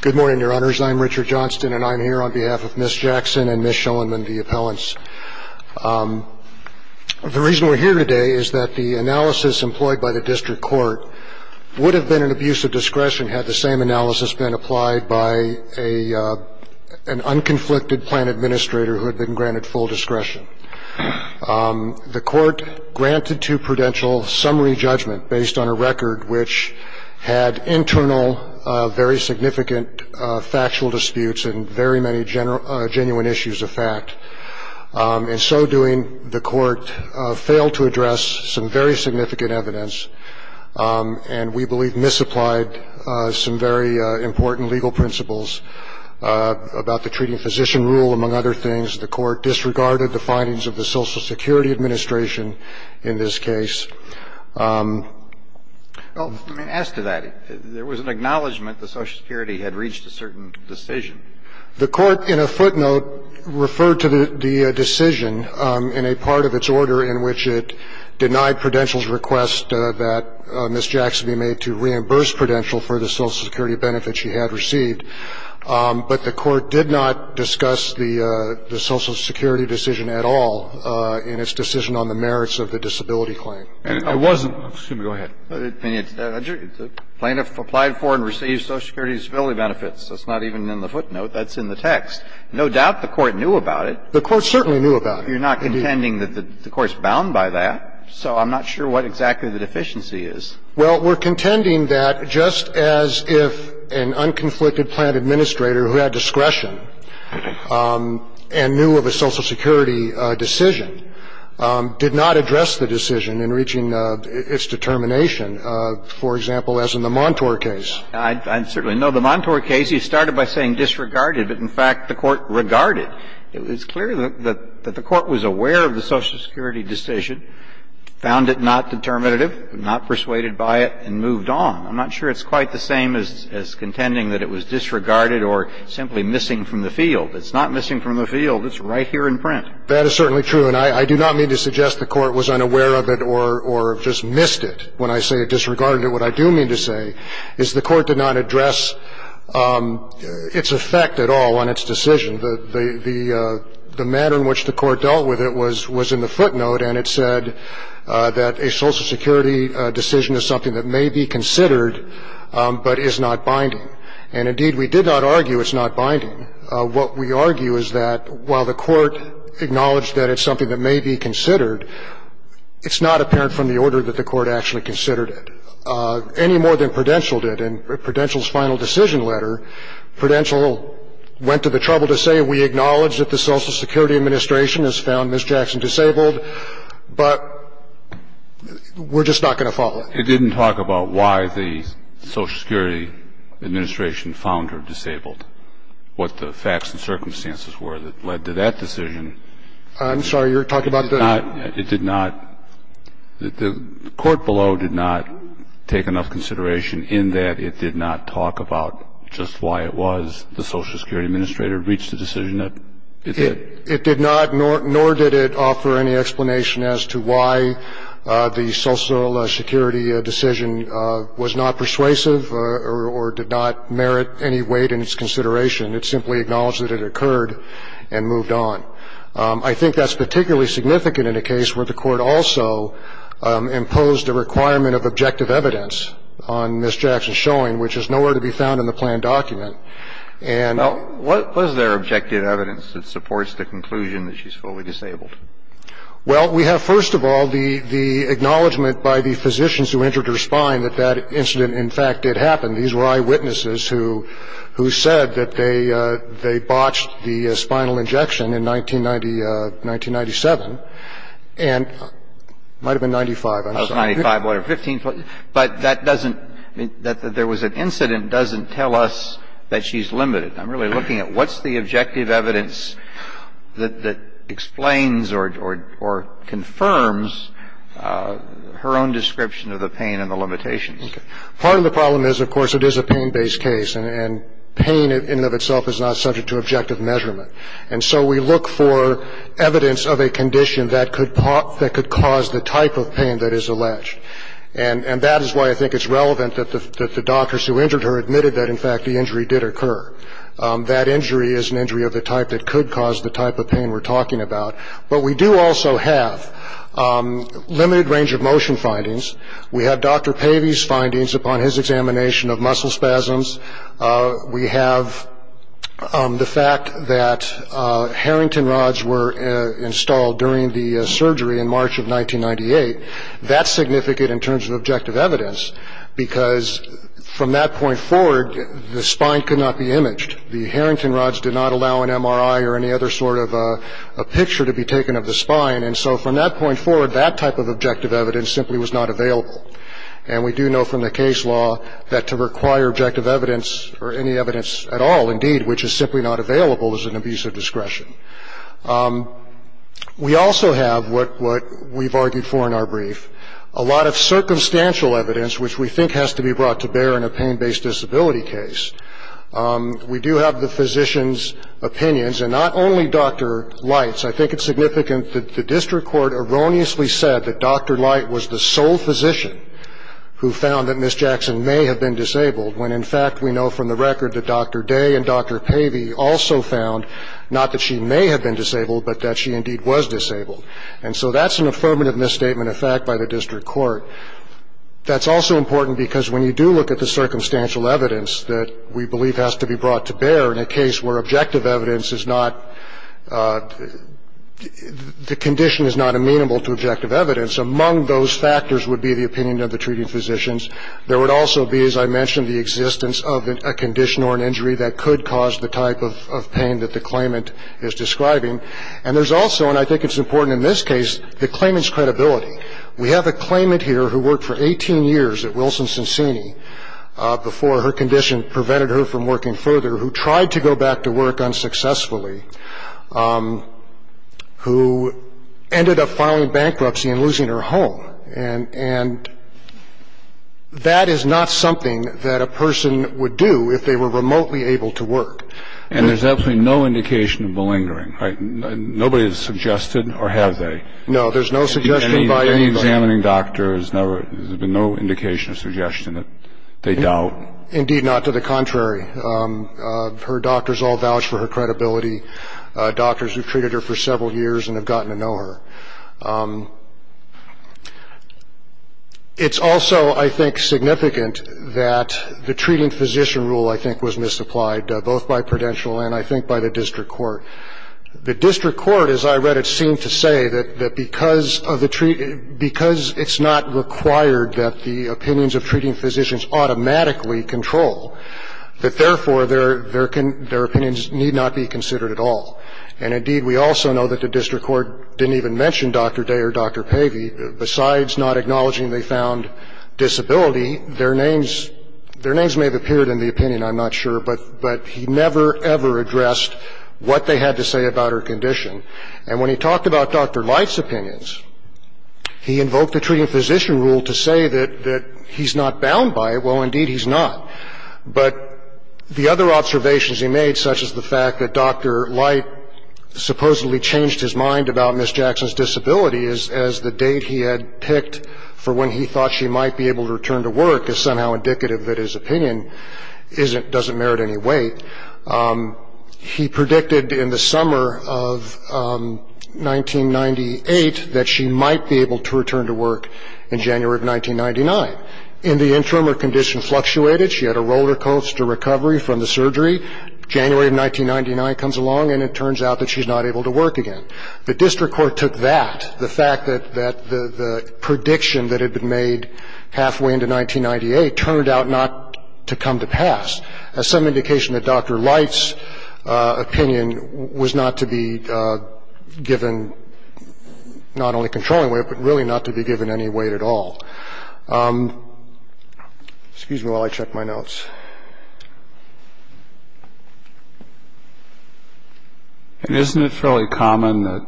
Good morning, your honors. I'm Richard Johnston, and I'm here on behalf of Ms. Jackson and Ms. Schoenman, the appellants. The reason we're here today is that the analysis employed by the district court would have been an abuse of discretion had the same analysis been applied by an unconflicted plan administrator who had been granted full discretion. The court granted to Prudential summary judgment based on a record which had internal, very significant factual disputes and very many genuine issues of fact. In so doing, the court failed to address some very significant evidence, and we believe misapplied some very important legal principles about the treating physician rule, among other things. The court disregarded the findings of the Social Security Administration in this case. I mean, as to that, there was an acknowledgment that Social Security had reached a certain decision. The court in a footnote referred to the decision in a part of its order in which it denied Prudential's request that Ms. Jackson be made to reimburse Prudential for the Social Security benefits she had received. But the court did not discuss the Social Security decision at all in its decision on the merits of the disability claim. And it wasn't the plaintiff applied for and received Social Security disability benefits. That's not even in the footnote. That's in the text. No doubt the court knew about it. The court certainly knew about it. You're not contending that the court's bound by that. So I'm not sure what exactly the deficiency is. Well, we're contending that just as if an unconflicted plant administrator who had discretion and knew of a Social Security decision did not address the decision in reaching its determination, for example, as in the Montour case. I certainly know the Montour case. You started by saying disregarded, but in fact the court regarded. It's clear that the court was aware of the Social Security decision, found it not determinative, not persuaded by it, and moved on. I'm not sure it's quite the same as contending that it was disregarded or simply missing from the field. It's not missing from the field. It's right here in print. That is certainly true. And I do not mean to suggest the court was unaware of it or just missed it when I say it disregarded it. What I do mean to say is the court did not address its effect at all on its decision. The manner in which the court dealt with it was in the footnote, and it said that a Social Security decision is something that may be considered but is not binding. And indeed, we did not argue it's not binding. What we argue is that while the court acknowledged that it's something that may be considered, it's not apparent from the order that the court actually considered it, any more than Prudential did. In Prudential's final decision letter, Prudential went to the trouble to say we acknowledge that the Social Security Administration has found Ms. Jackson disabled. But we're just not going to follow it. It didn't talk about why the Social Security Administration found her disabled, what the facts and circumstances were that led to that decision. I'm sorry. You're talking about the ---- It did not. The court below did not take enough consideration in that it did not talk about just why it was the Social Security Administrator reached a decision that it did. It did not, nor did it offer any explanation as to why the Social Security decision was not persuasive or did not merit any weight in its consideration. It simply acknowledged that it occurred and moved on. I think that's particularly significant in a case where the court also imposed a requirement of objective evidence on Ms. Jackson's showing, which is nowhere to be found in the planned document. Well, what was their objective evidence that supports the conclusion that she's fully disabled? Well, we have, first of all, the acknowledgment by the physicians who injured her spine that that incident, in fact, did happen. These were eyewitnesses who said that they botched the spinal injection in 1990, 1997. And it might have been 95. I'm sorry. It was 95 or 15. But that doesn't mean that there was an incident doesn't tell us that she's limited. I'm really looking at what's the objective evidence that explains or confirms her own description of the pain and the limitations. Part of the problem is, of course, it is a pain-based case, and pain in and of itself is not subject to objective measurement. And so we look for evidence of a condition that could cause the type of pain that is alleged. And that is why I think it's relevant that the doctors who injured her admitted that, in fact, the injury did occur. That injury is an injury of the type that could cause the type of pain we're talking about. But we do also have limited range of motion findings. We have Dr. Pavey's findings upon his examination of muscle spasms. We have the fact that Harrington rods were installed during the surgery in March of 1998. That's significant in terms of objective evidence because, from that point forward, the spine could not be imaged. The Harrington rods did not allow an MRI or any other sort of a picture to be taken of the spine. And so, from that point forward, that type of objective evidence simply was not available. And we do know from the case law that to require objective evidence or any evidence at all, indeed, which is simply not available, is an abuse of discretion. We also have what we've argued for in our brief, a lot of circumstantial evidence, which we think has to be brought to bear in a pain-based disability case. We do have the physician's opinions, and not only Dr. Light's. I think it's significant that the district court erroneously said that Dr. Light was the sole physician who found that Ms. Jackson may have been disabled, when, in fact, we know from the record that Dr. Day and Dr. Pavey also found not that she may have been disabled, but that she, indeed, was disabled. And so that's an affirmative misstatement of fact by the district court. That's also important because when you do look at the circumstantial evidence that we believe has to be brought to bear in a case where objective evidence is not the condition is not amenable to objective evidence, among those factors would be the opinion of the treating physicians. There would also be, as I mentioned, the existence of a condition or an injury that could cause the type of pain that the claimant is describing. And there's also, and I think it's important in this case, the claimant's credibility. We have a claimant here who worked for 18 years at Wilson-Sensini before her condition prevented her from working further, who tried to go back to work unsuccessfully, who ended up filing bankruptcy and losing her home. And that is not something that a person would do if they were remotely able to work. And there's absolutely no indication of malingering, right? Nobody has suggested or have they? No, there's no suggestion by anybody. Any examining doctor, there's been no indication or suggestion that they doubt? Indeed not, to the contrary. Her doctors all vouch for her credibility. Doctors who've treated her for several years and have gotten to know her. It's also, I think, significant that the treating physician rule, I think, was misapplied, both by Prudential and, I think, by the district court. The district court, as I read it, seemed to say that because it's not required that the opinions of treating physicians automatically control, that therefore their opinions need not be considered at all. And, indeed, we also know that the district court didn't even mention Dr. Day or Dr. Pavey. Besides not acknowledging they found disability, their names may have appeared in the opinion. I'm not sure. But he never, ever addressed what they had to say about her condition. And when he talked about Dr. Light's opinions, he invoked the treating physician rule to say that he's not bound by it. Well, indeed, he's not. But the other observations he made, such as the fact that Dr. Light supposedly changed his mind about Ms. Jackson's disability as the date he had picked for when he thought she might be able to return to work is somehow indicative that his opinion doesn't merit any weight. He predicted in the summer of 1998 that she might be able to return to work in January of 1999. In the interim, her condition fluctuated. She had a roller coaster recovery from the surgery. January of 1999 comes along, and it turns out that she's not able to work again. The district court took that, the fact that the prediction that had been made halfway into 1998 turned out not to come to pass, as some indication that Dr. Light's opinion was not to be given not only controlling weight, but really not to be given any weight at all. Excuse me while I check my notes. Isn't it fairly common that,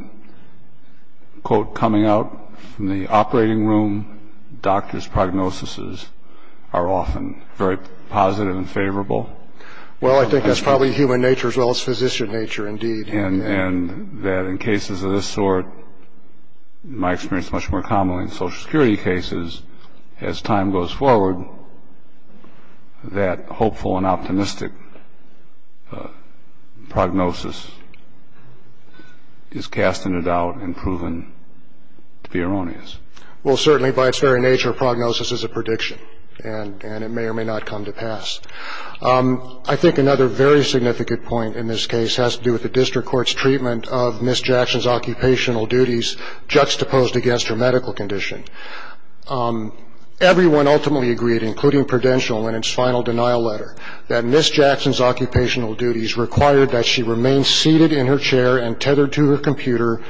quote, coming out from the operating room, doctors' prognoses are often very positive and favorable? Well, I think that's probably human nature as well as physician nature, indeed. And that in cases of this sort, in my experience, much more commonly in Social Security cases, as time goes forward, that hopeful and optimistic prognosis is cast into doubt and proven to be erroneous. Well, certainly by its very nature, prognosis is a prediction, and it may or may not come to pass. I think another very significant point in this case has to do with the district court's treatment of Ms. Jackson's occupational duties juxtaposed against her medical condition. Everyone ultimately agreed, including Prudential in its final denial letter, that Ms. Jackson's occupational duties required that she remain seated in her chair and tethered to her computer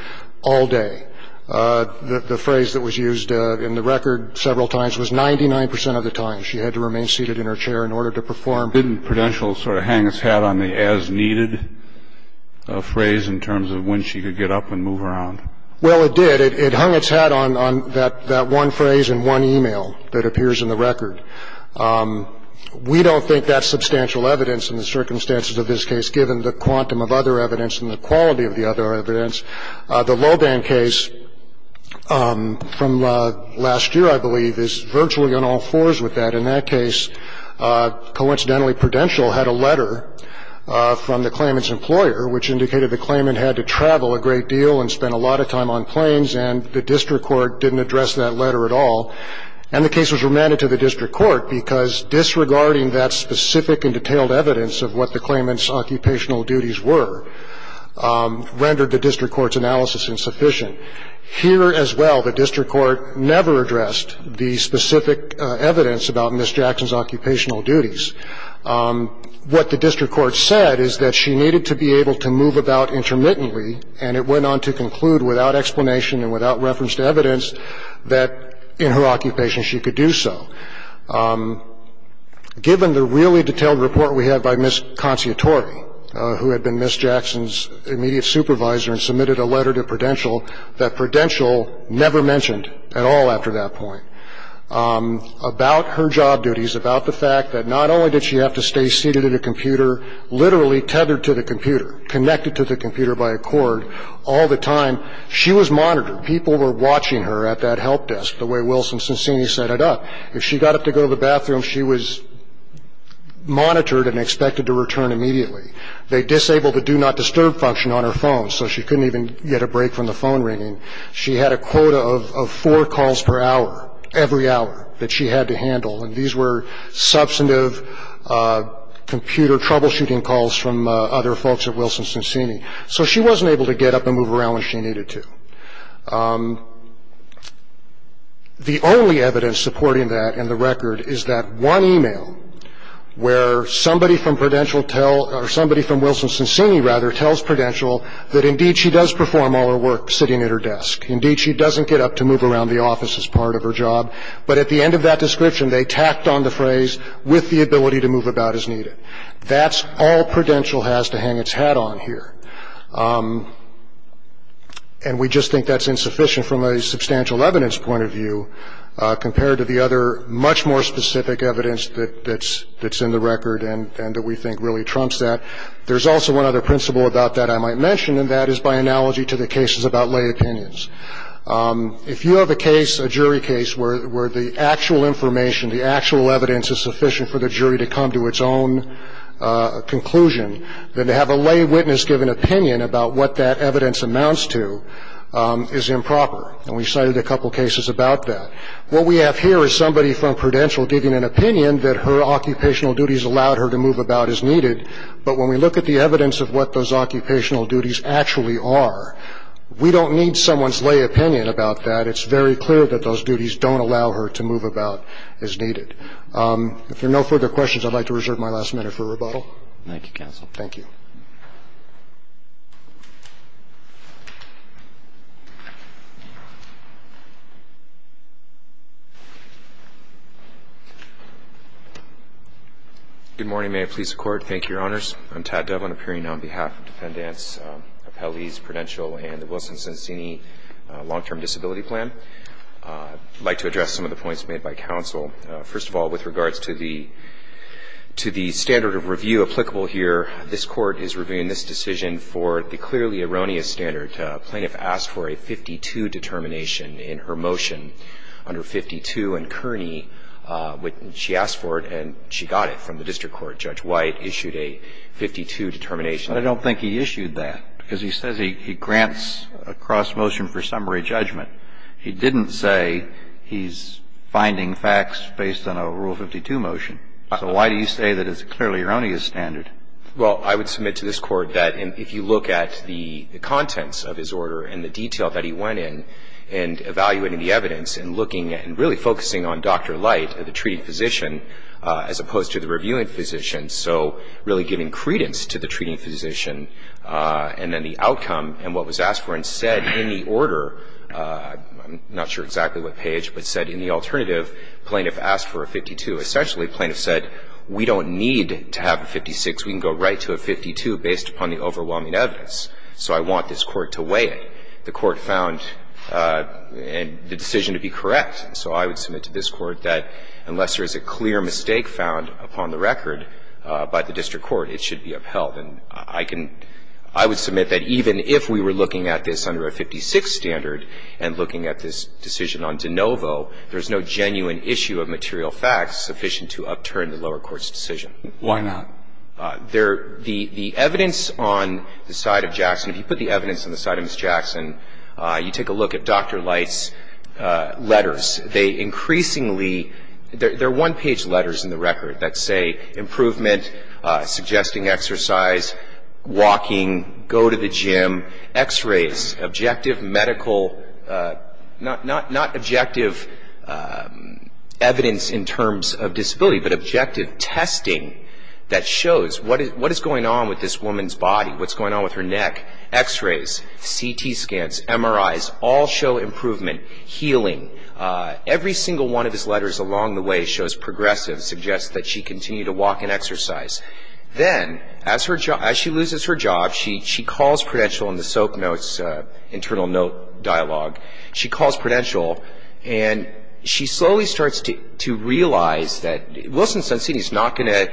all day. The phrase that was used in the record several times was, She had to remain seated in her chair in order to perform. Didn't Prudential sort of hang its hat on the as-needed phrase in terms of when she could get up and move around? Well, it did. It hung its hat on that one phrase in one e-mail that appears in the record. We don't think that's substantial evidence in the circumstances of this case, given the quantum of other evidence and the quality of the other evidence. The Loban case from last year, I believe, is virtually on all fours with that. In that case, coincidentally, Prudential had a letter from the claimant's employer which indicated the claimant had to travel a great deal and spend a lot of time on planes, and the district court didn't address that letter at all. And the case was remanded to the district court because, disregarding that specific and detailed evidence of what the claimant's occupational duties were, rendered the district court's analysis insufficient. Here as well, the district court never addressed the specific evidence about Ms. Jackson's occupational duties. What the district court said is that she needed to be able to move about intermittently, and it went on to conclude, without explanation and without reference to evidence, that in her occupation she could do so. Given the really detailed report we have by Ms. Conciatori, who had been Ms. Jackson's immediate supervisor and submitted a letter to Prudential, that Prudential never mentioned at all after that point about her job duties, about the fact that not only did she have to stay seated at a computer, literally tethered to the computer, connected to the computer by a cord all the time, she was monitored. People were watching her at that help desk, the way Wilson Sassini set it up. If she got up to go to the bathroom, she was monitored and expected to return immediately. They disabled the do not disturb function on her phone, so she couldn't even get a break from the phone ringing. She had a quota of four calls per hour, every hour, that she had to handle, and these were substantive computer troubleshooting calls from other folks at Wilson Sassini. So she wasn't able to get up and move around when she needed to. The only evidence supporting that in the record is that one e-mail where somebody from Prudential tell or somebody from Wilson Sassini, rather, tells Prudential that, indeed, she does perform all her work sitting at her desk. Indeed, she doesn't get up to move around the office as part of her job. But at the end of that description, they tacked on the phrase, with the ability to move about as needed. That's all Prudential has to hang its hat on here. And we just think that's insufficient from a substantial evidence point of view, compared to the other much more specific evidence that's in the record and that we think really trumps that. There's also one other principle about that I might mention, and that is by analogy to the cases about lay opinions. If you have a case, a jury case, where the actual information, the actual evidence is sufficient for the jury to come to its own conclusion, then to have a lay witness give an opinion about what that evidence amounts to is improper. And we cited a couple cases about that. What we have here is somebody from Prudential giving an opinion that her occupational duties allowed her to move about as needed. But when we look at the evidence of what those occupational duties actually are, we don't need someone's lay opinion about that. It's very clear that those duties don't allow her to move about as needed. If there are no further questions, I'd like to reserve my last minute for rebuttal. Thank you, Counsel. Thank you. Good morning. May it please the Court. Thank you, Your Honors. I'm Tad Devlin, appearing on behalf of Dependents Appellees Prudential and the Wilson-Sincini Long-Term Disability Plan. I'd like to address some of the points made by counsel. First of all, with regards to the standard of review applicable here, this Court is reviewing this decision for the clearly erroneous standard. Plaintiff asked for a 52 determination in her motion, under 52. And Kearney, she asked for it and she got it from the district court. Judge White issued a 52 determination. I don't think he issued that, because he says he grants a cross-motion for summary judgment. He didn't say he's finding facts based on a Rule 52 motion. So why do you say that it's a clearly erroneous standard? Well, I would submit to this Court that if you look at the contents of his order and the detail that he went in, and evaluating the evidence and looking and really focusing on Dr. Light, the treating physician, as opposed to the reviewing physician, so really giving credence to the treating physician, and then the outcome and what I'm not sure exactly what page, but said in the alternative plaintiff asked for a 52. Essentially, plaintiff said we don't need to have a 56. We can go right to a 52 based upon the overwhelming evidence. So I want this Court to weigh it. The Court found the decision to be correct. So I would submit to this Court that unless there is a clear mistake found upon the record by the district court, it should be upheld. And I can, I would submit that even if we were looking at this under a 56 standard and looking at this decision on de novo, there's no genuine issue of material facts sufficient to upturn the lower court's decision. Why not? The evidence on the side of Jackson, if you put the evidence on the side of Ms. Jackson, you take a look at Dr. Light's letters. They increasingly, they're one-page letters in the record that say improvement, suggesting exercise, walking, go to the gym, x-rays, objective medical, not objective evidence in terms of disability, but objective testing that shows what is going on with this woman's body, what's going on with her neck, x-rays, CT scans, MRIs, all show improvement, healing. Every single one of his letters along the way shows progressive, suggests that she can continue to walk and exercise. Then, as her job, as she loses her job, she calls Prudential in the soap notes, internal note dialogue. She calls Prudential, and she slowly starts to realize that Wilson-Sunstein is not going to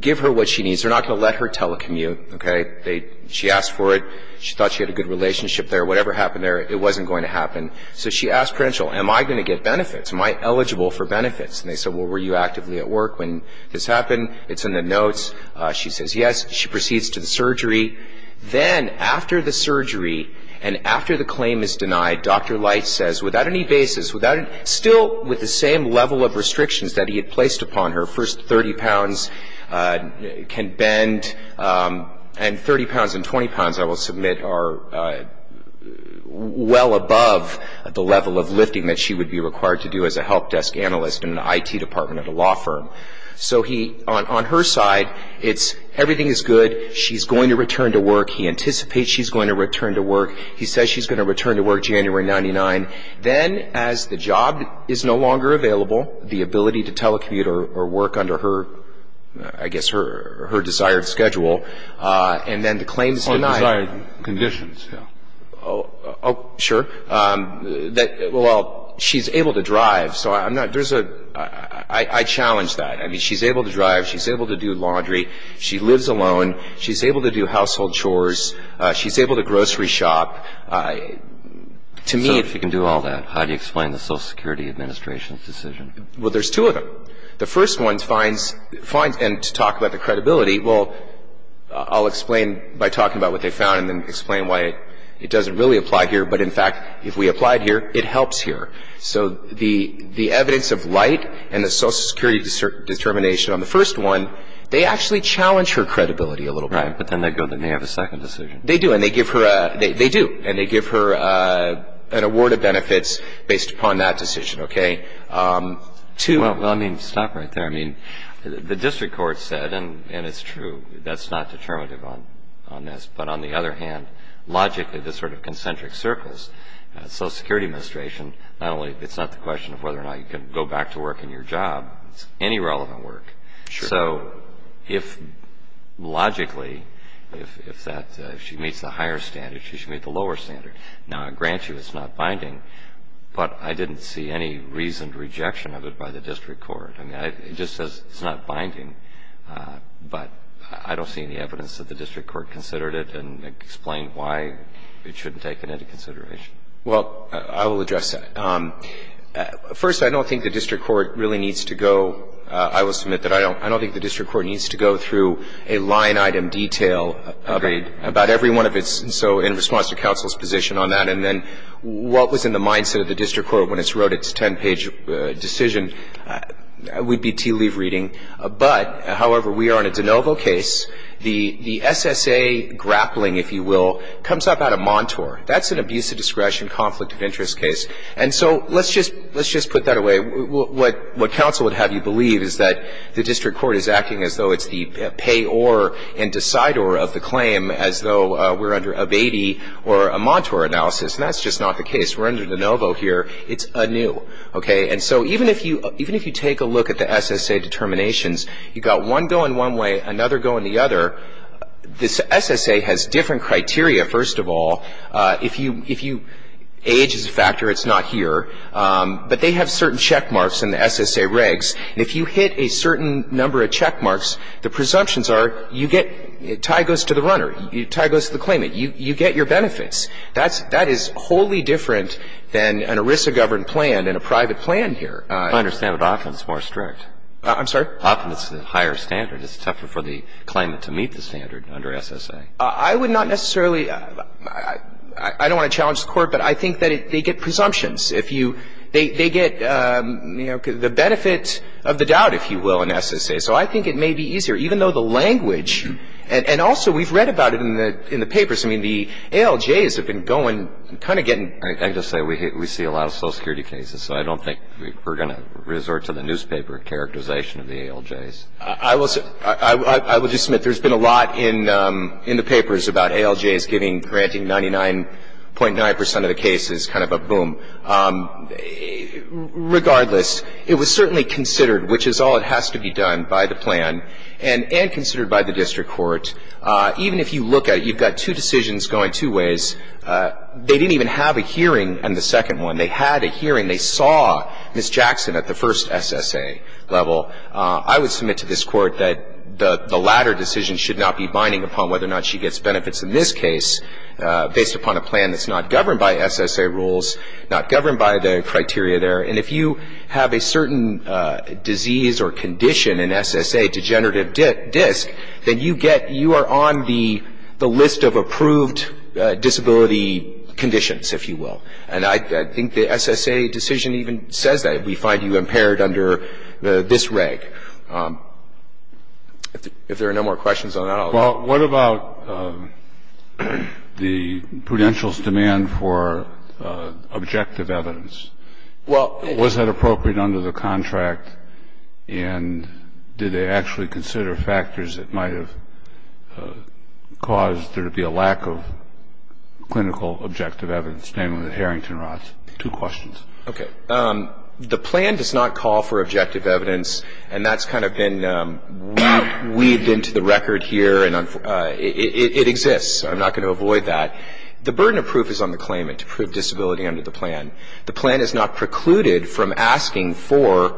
give her what she needs. They're not going to let her telecommute, okay. She asked for it. She thought she had a good relationship there. Whatever happened there, it wasn't going to happen. Am I eligible for benefits? And they said, well, were you actively at work when this happened? It's in the notes. She says yes. She proceeds to the surgery. Then, after the surgery and after the claim is denied, Dr. Light says, without any basis, still with the same level of restrictions that he had placed upon her, first 30 pounds can bend, and 30 pounds and 20 pounds, I will submit, are well above the level of lifting that she would be required to do as a help desk analyst in an IT department at a law firm. So he, on her side, it's everything is good. She's going to return to work. He anticipates she's going to return to work. He says she's going to return to work January 99. Then, as the job is no longer available, the ability to telecommute or work under her, I guess her desired schedule, and then the claim is denied. On desired conditions, yeah. Oh, sure. Well, she's able to drive, so I'm not, there's a, I challenge that. I mean, she's able to drive. She's able to do laundry. She lives alone. She's able to do household chores. She's able to grocery shop. To me, if you can do all that, how do you explain the Social Security Administration's decision? Well, there's two of them. The first one finds, and to talk about the credibility, well, I'll explain by talking about what they found and then explain why it doesn't really apply here. But, in fact, if we applied here, it helps here. So the evidence of light and the Social Security determination on the first one, they actually challenge her credibility a little bit. Right, but then they have a second decision. They do, and they give her an award of benefits based upon that decision, okay? Well, I mean, stop right there. I mean, the district court said, and it's true, that's not determinative on this. But, on the other hand, logically, this sort of concentric circles, Social Security Administration, not only it's not the question of whether or not you can go back to work in your job, it's any relevant work. So, logically, if she meets the higher standard, she should meet the lower standard. Now, I grant you it's not binding, but I didn't see any reasoned rejection of it by the district court. I mean, it just says it's not binding. But I don't see any evidence that the district court considered it and explained why it shouldn't take it into consideration. Well, I will address that. First, I don't think the district court really needs to go. I will submit that I don't think the district court needs to go through a line-item detail about every one of its so in response to counsel's position on that, and then what was in the mindset of the district court when it wrote its ten-page decision would be tea-leaf reading. But, however, we are on a de novo case. The SSA grappling, if you will, comes up out of Montour. That's an abuse of discretion, conflict of interest case. And so let's just put that away. What counsel would have you believe is that the district court is acting as though it's the payor and decidor of the claim as though we're under abatee or a Montour analysis. And that's just not the case. We're under de novo here. It's anew. Okay? And so even if you take a look at the SSA determinations, you've got one going one way, another going the other. This SSA has different criteria, first of all. If you age is a factor, it's not here. But they have certain checkmarks in the SSA regs. And if you hit a certain number of checkmarks, the presumptions are you get tie goes to the runner, tie goes to the claimant. You get your benefits. That is wholly different than an ERISA-governed plan and a private plan here. I understand that often it's more strict. I'm sorry? Often it's a higher standard. It's tougher for the claimant to meet the standard under SSA. I would not necessarily – I don't want to challenge the Court, but I think that they get presumptions. If you – they get, you know, the benefit of the doubt, if you will, in SSA. So I think it may be easier, even though the language – and also we've read about it in the papers. I mean, the ALJs have been going – kind of getting – I can just say we see a lot of Social Security cases, so I don't think we're going to resort to the newspaper characterization of the ALJs. I will just submit there's been a lot in the papers about ALJs granting 99.9 percent of the cases, kind of a boom. Regardless, it was certainly considered, which is all that has to be done by the plan, and considered by the district court. Even if you look at it, you've got two decisions going two ways. They didn't even have a hearing on the second one. They had a hearing. They saw Ms. Jackson at the first SSA level. I would submit to this Court that the latter decision should not be binding upon whether or not she gets benefits in this case based upon a plan that's not governed by SSA rules. Not governed by the criteria there. And if you have a certain disease or condition in SSA, degenerative disc, then you get – you are on the list of approved disability conditions, if you will. And I think the SSA decision even says that. We find you impaired under this reg. If there are no more questions on that, I'll let you go. Well, what about the prudential's demand for objective evidence? Was that appropriate under the contract? And did they actually consider factors that might have caused there to be a lack of clinical objective evidence, namely the Harrington rods? Two questions. Okay. The plan does not call for objective evidence, and that's kind of been weaved into the record here, and it exists. I'm not going to avoid that. The burden of proof is on the claimant to prove disability under the plan. The plan is not precluded from asking for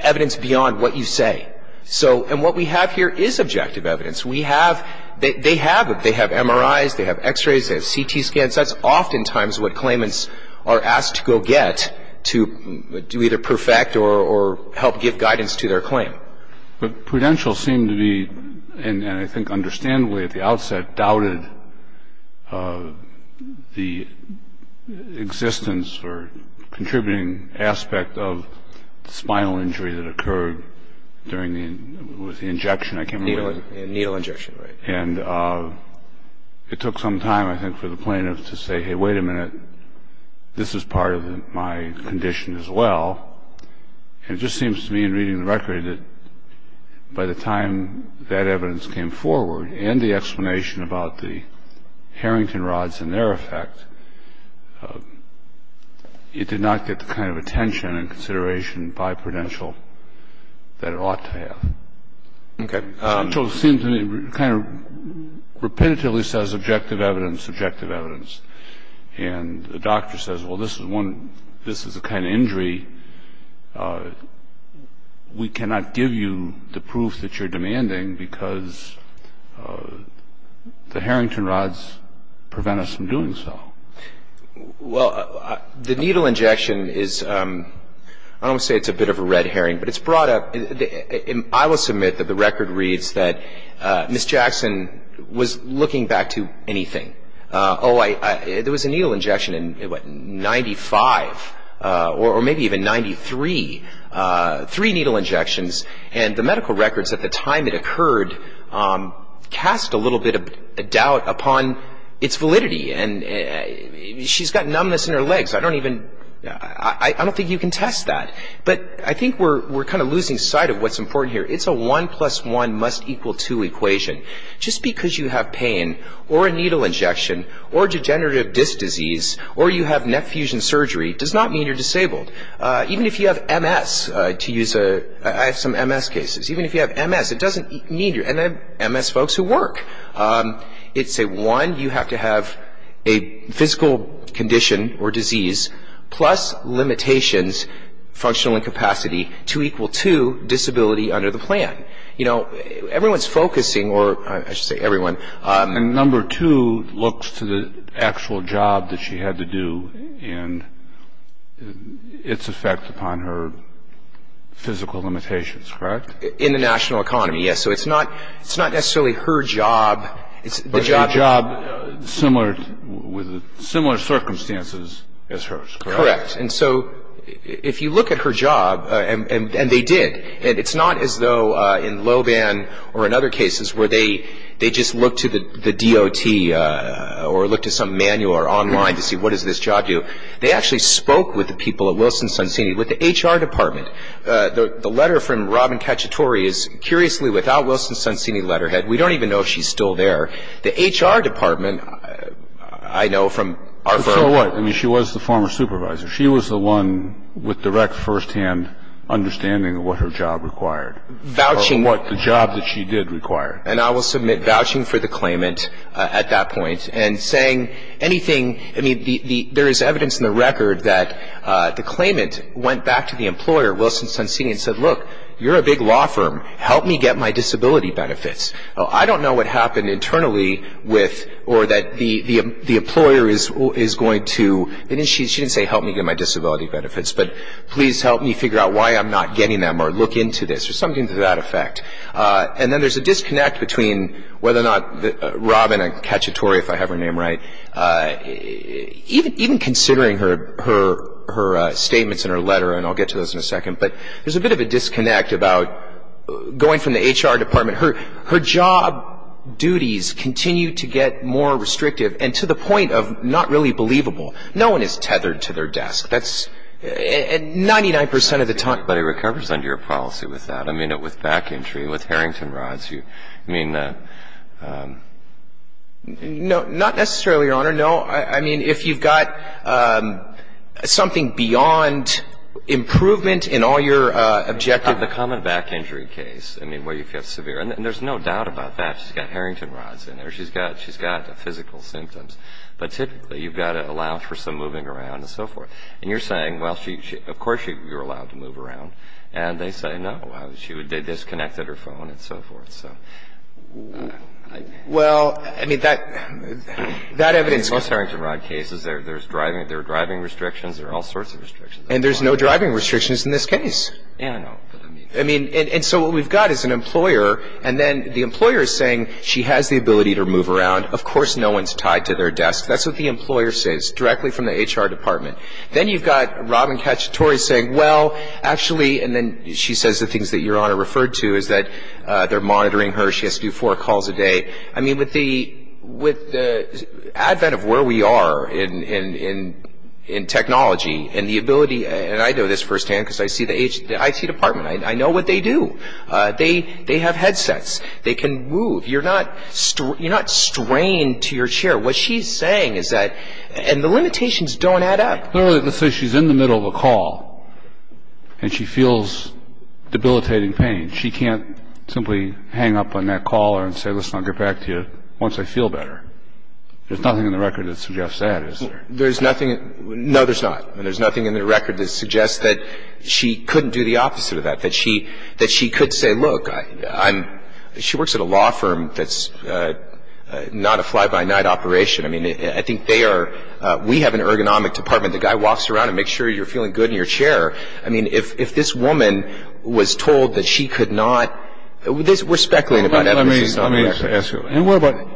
evidence beyond what you say. So – and what we have here is objective evidence. We have – they have MRIs, they have X-rays, they have CT scans. That's oftentimes what claimants are asked to go get to either perfect or help give guidance to their claim. But prudential seemed to be, and I think understandably at the outset, doubted the existence or contributing aspect of the spinal injury that occurred during the – with the injection I came away with. Needle injection, right. And it took some time, I think, for the plaintiff to say, hey, wait a minute. This is part of my condition as well. And it just seems to me in reading the record that by the time that evidence came forward and the explanation about the Harrington rods and their effect, it did not get the kind of attention and consideration by prudential that it ought to have. Okay. So it seems to me it kind of repetitively says objective evidence, objective evidence. And the doctor says, well, this is one – this is a kind of injury. We cannot give you the proof that you're demanding because the Harrington rods prevent us from doing so. Well, the needle injection is – I don't want to say it's a bit of a red herring, but it's brought up – I will submit that the record reads that Ms. Jackson was looking back to anything. Oh, I – there was a needle injection in, what, 95 or maybe even 93, three needle injections. And the medical records at the time it occurred cast a little bit of doubt upon its validity. And she's got numbness in her legs. I don't even – I don't think you can test that. But I think we're kind of losing sight of what's important here. It's a one plus one must equal two equation. Just because you have pain or a needle injection or degenerative disc disease or you have neck fusion surgery does not mean you're disabled. Even if you have MS, to use a – I have some MS cases. Even if you have MS, it doesn't mean you're – and I have MS folks who work. It's a one, you have to have a physical condition or disease plus limitations, functional incapacity, to equal two, disability under the plan. You know, everyone's focusing, or I should say everyone. And number two looks to the actual job that she had to do and its effect upon her physical limitations, correct? In the national economy, yes. So it's not – it's not necessarily her job. But a job similar – with similar circumstances as hers, correct? And so if you look at her job, and they did, and it's not as though in Loban or in other cases where they just look to the DOT or look to some manual or online to see what does this job do. They actually spoke with the people at Wilson-Suncini, with the HR department. The letter from Robin Cacciatore is, curiously, without Wilson-Suncini letterhead. We don't even know if she's still there. The HR department, I know from our firm – She was the one with direct, firsthand understanding of what her job required. Vouching – Or what the job that she did required. And I will submit vouching for the claimant at that point. And saying anything – I mean, there is evidence in the record that the claimant went back to the employer, Wilson-Suncini, and said, look, you're a big law firm. Help me get my disability benefits. I don't know what happened internally with – or that the employer is going to – She didn't say help me get my disability benefits, but please help me figure out why I'm not getting them or look into this or something to that effect. And then there's a disconnect between whether or not Robin Cacciatore, if I have her name right, even considering her statements in her letter, and I'll get to those in a second, but there's a bit of a disconnect about going from the HR department. Her job duties continue to get more restrictive and to the point of not really believable. No one is tethered to their desk. That's – and 99 percent of the time – But it recovers under your policy with that. I mean, with back injury, with Harrington rods, I mean – Not necessarily, Your Honor. No. I mean, if you've got something beyond improvement in all your objective – The common back injury case, I mean, where you feel severe. And there's no doubt about that. She's got Harrington rods in there. She's got physical symptoms. But typically, you've got to allow for some moving around and so forth. And you're saying, well, of course you're allowed to move around. And they say no. They disconnected her phone and so forth. Well, I mean, that evidence – Most Harrington rod cases, there are driving restrictions. There are all sorts of restrictions. And there's no driving restrictions in this case. Yeah, I know. I mean, and so what we've got is an employer, and then the employer is saying she has the ability to move around. Of course no one's tied to their desk. That's what the employer says directly from the HR department. Then you've got Robin Cacciatore saying, well, actually – And then she says the things that Your Honor referred to is that they're monitoring her. She has to do four calls a day. I mean, with the advent of where we are in technology and the ability – And I know this firsthand because I see the IT department. I know what they do. They have headsets. They can move. You're not strained to your chair. What she's saying is that – and the limitations don't add up. Let's say she's in the middle of a call and she feels debilitating pain. She can't simply hang up on that caller and say, listen, I'll get back to you once I feel better. There's nothing in the record that suggests that, is there? There's nothing – no, there's not. There's nothing in the record that suggests that she couldn't do the opposite of that, that she could say, look, I'm – she works at a law firm that's not a fly-by-night operation. I mean, I think they are – we have an ergonomic department. The guy walks around and makes sure you're feeling good in your chair. I mean, if this woman was told that she could not – we're speculating about it. Let me ask you.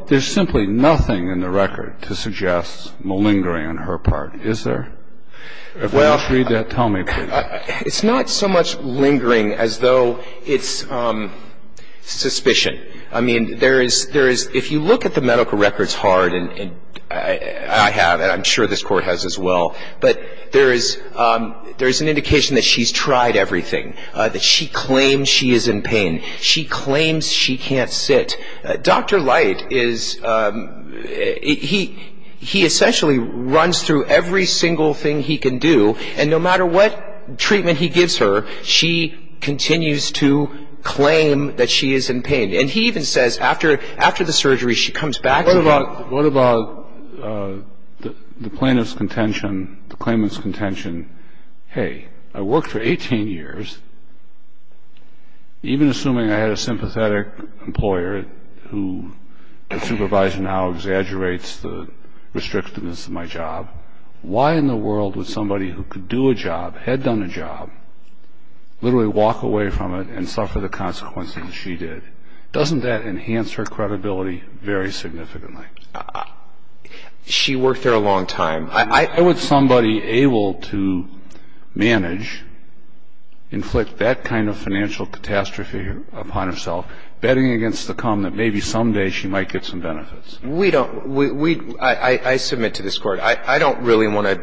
There's simply nothing in the record to suggest malingering on her part, is there? If you can just read that, tell me, please. It's not so much lingering as though it's suspicion. I mean, there is – if you look at the medical records hard, and I have, and I'm sure this Court has as well, but there is an indication that she's tried everything, that she claims she is in pain. She claims she can't sit. Dr. Light is – he essentially runs through every single thing he can do, and no matter what treatment he gives her, she continues to claim that she is in pain. And he even says, after the surgery, she comes back to him. What about the plaintiff's contention, the claimant's contention, hey, I worked for 18 years. Even assuming I had a sympathetic employer who the supervisor now exaggerates the restrictiveness of my job, why in the world would somebody who could do a job, had done a job, literally walk away from it and suffer the consequences she did? Doesn't that enhance her credibility very significantly? She worked there a long time. I would somebody able to manage, inflict that kind of financial catastrophe upon herself, betting against the come that maybe someday she might get some benefits. We don't – we – I submit to this Court. I don't really want to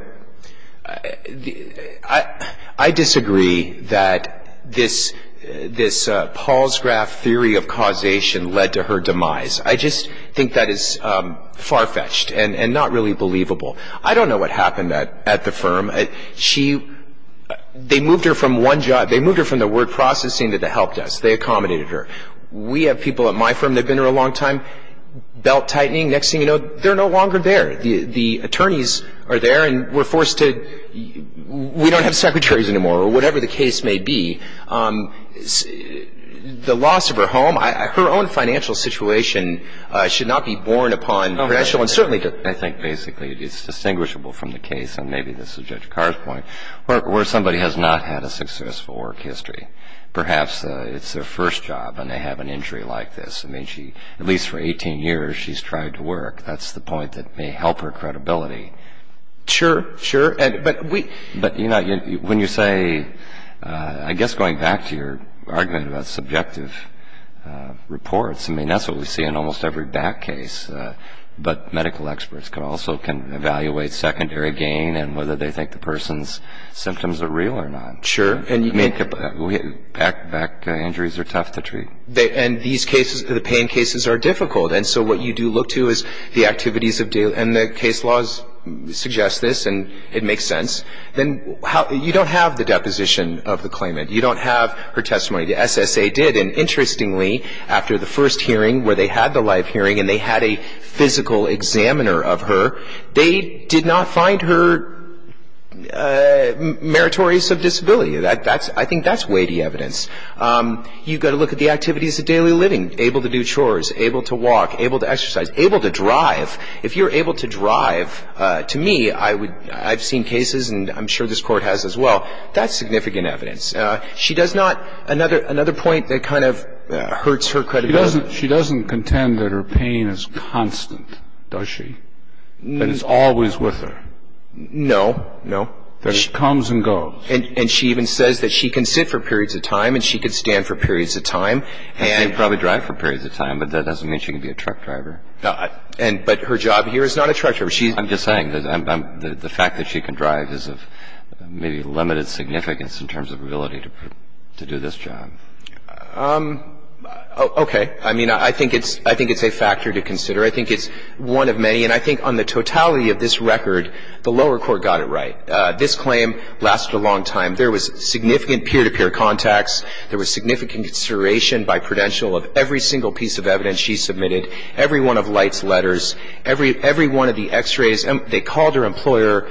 – I disagree that this Paul's graph theory of causation led to her demise. I just think that is far-fetched and not really believable. I don't know what happened at the firm. She – they moved her from one job – they moved her from the word processing to the help desk. They accommodated her. We have people at my firm that have been there a long time, belt-tightening. Next thing you know, they're no longer there. The attorneys are there and we're forced to – we don't have secretaries anymore, or whatever the case may be. The loss of her home, her own financial situation should not be borne upon – I think basically it's distinguishable from the case, and maybe this is Judge Carr's point, where somebody has not had a successful work history. Perhaps it's their first job and they have an injury like this. I mean, she – at least for 18 years, she's tried to work. That's the point that may help her credibility. Sure, sure. But we – But, you know, when you say – I guess going back to your argument about subjective reports, I mean, that's what we see in almost every back case. But medical experts also can evaluate secondary gain and whether they think the person's symptoms are real or not. Sure. I mean, back injuries are tough to treat. And these cases – the pain cases are difficult. And so what you do look to is the activities of – and the case laws suggest this, and it makes sense. Then you don't have the deposition of the claimant. You don't have her testimony. The SSA did, and interestingly, after the first hearing where they had the live hearing and they had a physical examiner of her, they did not find her meritorious of disability. I think that's weighty evidence. You've got to look at the activities of daily living, able to do chores, able to walk, able to exercise, able to drive. If you're able to drive, to me, I would – I've seen cases, and I'm sure this Court has as well. That's significant evidence. She does not – another point that kind of hurts her credibility. She doesn't contend that her pain is constant, does she? That it's always with her? No. No? That it comes and goes? And she even says that she can sit for periods of time and she can stand for periods of time. She can probably drive for periods of time, but that doesn't mean she can be a truck driver. But her job here is not a truck driver. I'm just saying that the fact that she can drive is of maybe limited significance in terms of her ability to do this job. Okay. I mean, I think it's a factor to consider. I think it's one of many, and I think on the totality of this record, the lower court got it right. This claim lasted a long time. There was significant peer-to-peer contacts. There was significant consideration by prudential of every single piece of evidence she submitted, every one of Light's letters, every one of the x-rays. They called her employer.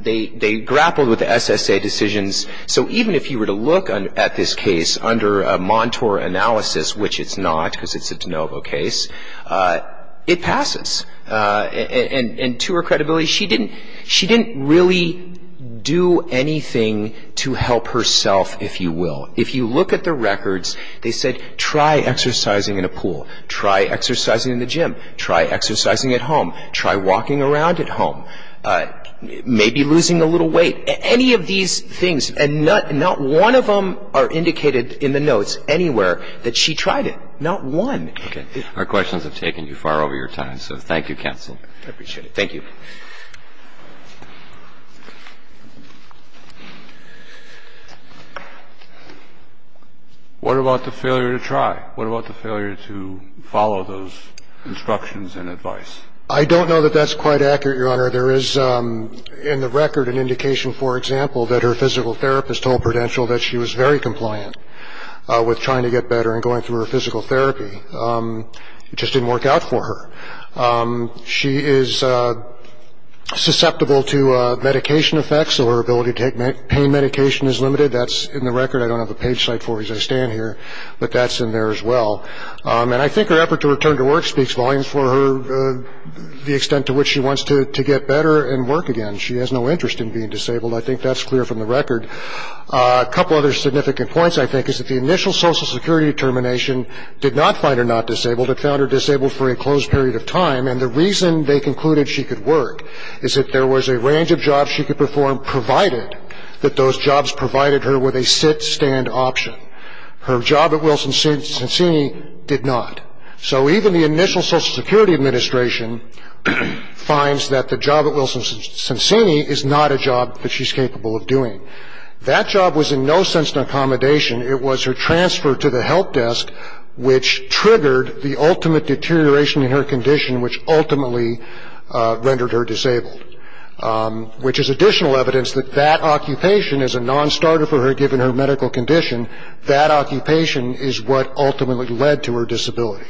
They grappled with the SSA decisions. So even if you were to look at this case under a Montour analysis, which it's not because it's a DeNovo case, it passes. And to her credibility, she didn't really do anything to help herself, if you will. If you look at the records, they said try exercising in a pool, try exercising in the gym, try exercising at home, try walking around at home, maybe losing a little weight, any of these things. And not one of them are indicated in the notes anywhere that she tried it, not one. Our questions have taken you far over your time, so thank you, counsel. I appreciate it. Thank you. What about the failure to try? What about the failure to follow those instructions and advice? I don't know that that's quite accurate, Your Honor. There is in the record an indication, for example, that her physical therapist told prudential that she was very compliant with trying to get better and going through her physical therapy. It just didn't work out for her. She is susceptible to medication effects, so her ability to take pain medication is limited. That's in the record. I don't have a page cite for it as I stand here, but that's in there as well. And I think her effort to return to work speaks volumes for the extent to which she wants to get better and work again. She has no interest in being disabled. I think that's clear from the record. A couple other significant points, I think, is that the initial Social Security determination did not find her not disabled. It found her disabled for a closed period of time, and the reason they concluded she could work is that there was a range of jobs she could perform, provided that those jobs provided her with a sit-stand option. Her job at Wilson-Sonsini did not. So even the initial Social Security administration finds that the job at Wilson-Sonsini is not a job that she's capable of doing. That job was in no sense an accommodation. It was her transfer to the help desk, which triggered the ultimate deterioration in her condition, which ultimately rendered her disabled, which is additional evidence that that occupation is a nonstarter for her given her medical condition. That occupation is what ultimately led to her disability.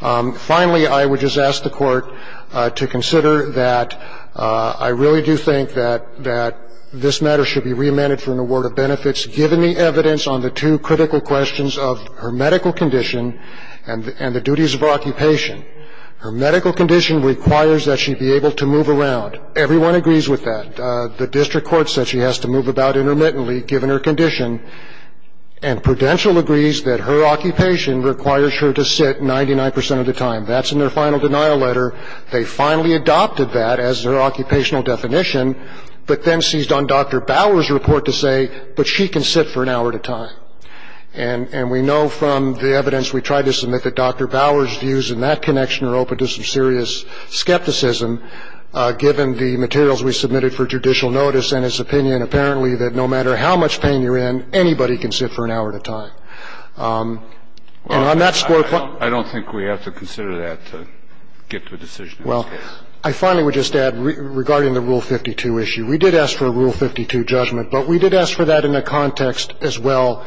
Finally, I would just ask the Court to consider that I really do think that this matter should be reamended for an award of benefits, given the evidence on the two critical questions of her medical condition and the duties of her occupation. Her medical condition requires that she be able to move around. Everyone agrees with that. The district court says she has to move about intermittently, given her condition, and Prudential agrees that her occupation requires her to sit 99 percent of the time. That's in their final denial letter. They finally adopted that as their occupational definition, but then seized on Dr. Bauer's report to say, but she can sit for an hour at a time. And we know from the evidence we tried to submit that Dr. Bauer's views in that connection are open to some serious skepticism, given the materials we submitted for judicial notice and his opinion, apparently, that no matter how much pain you're in, anybody can sit for an hour at a time. And on that score point ---- I don't think we have to consider that to get to a decision in this case. Well, I finally would just add, regarding the Rule 52 issue, we did ask for a Rule 52 judgment, but we did ask for that in the context as well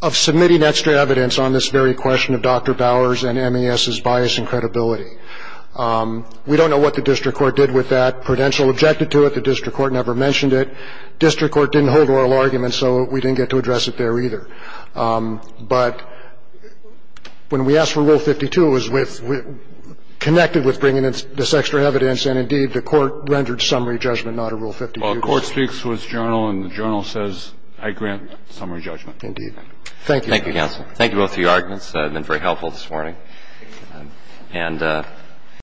of submitting extra evidence on this very question of Dr. Bauer's and MES's bias and credibility. We don't know what the district court did with that. Prudential objected to it. The district court never mentioned it. District court didn't hold oral arguments, so we didn't get to address it there either. But when we asked for Rule 52, it was connected with bringing in this extra evidence, and, indeed, the court rendered summary judgment not a Rule 52. Well, the court speaks to its journal, and the journal says, I grant summary judgment. Indeed. Thank you. Thank you both for your arguments. They've been very helpful this morning. Thank you.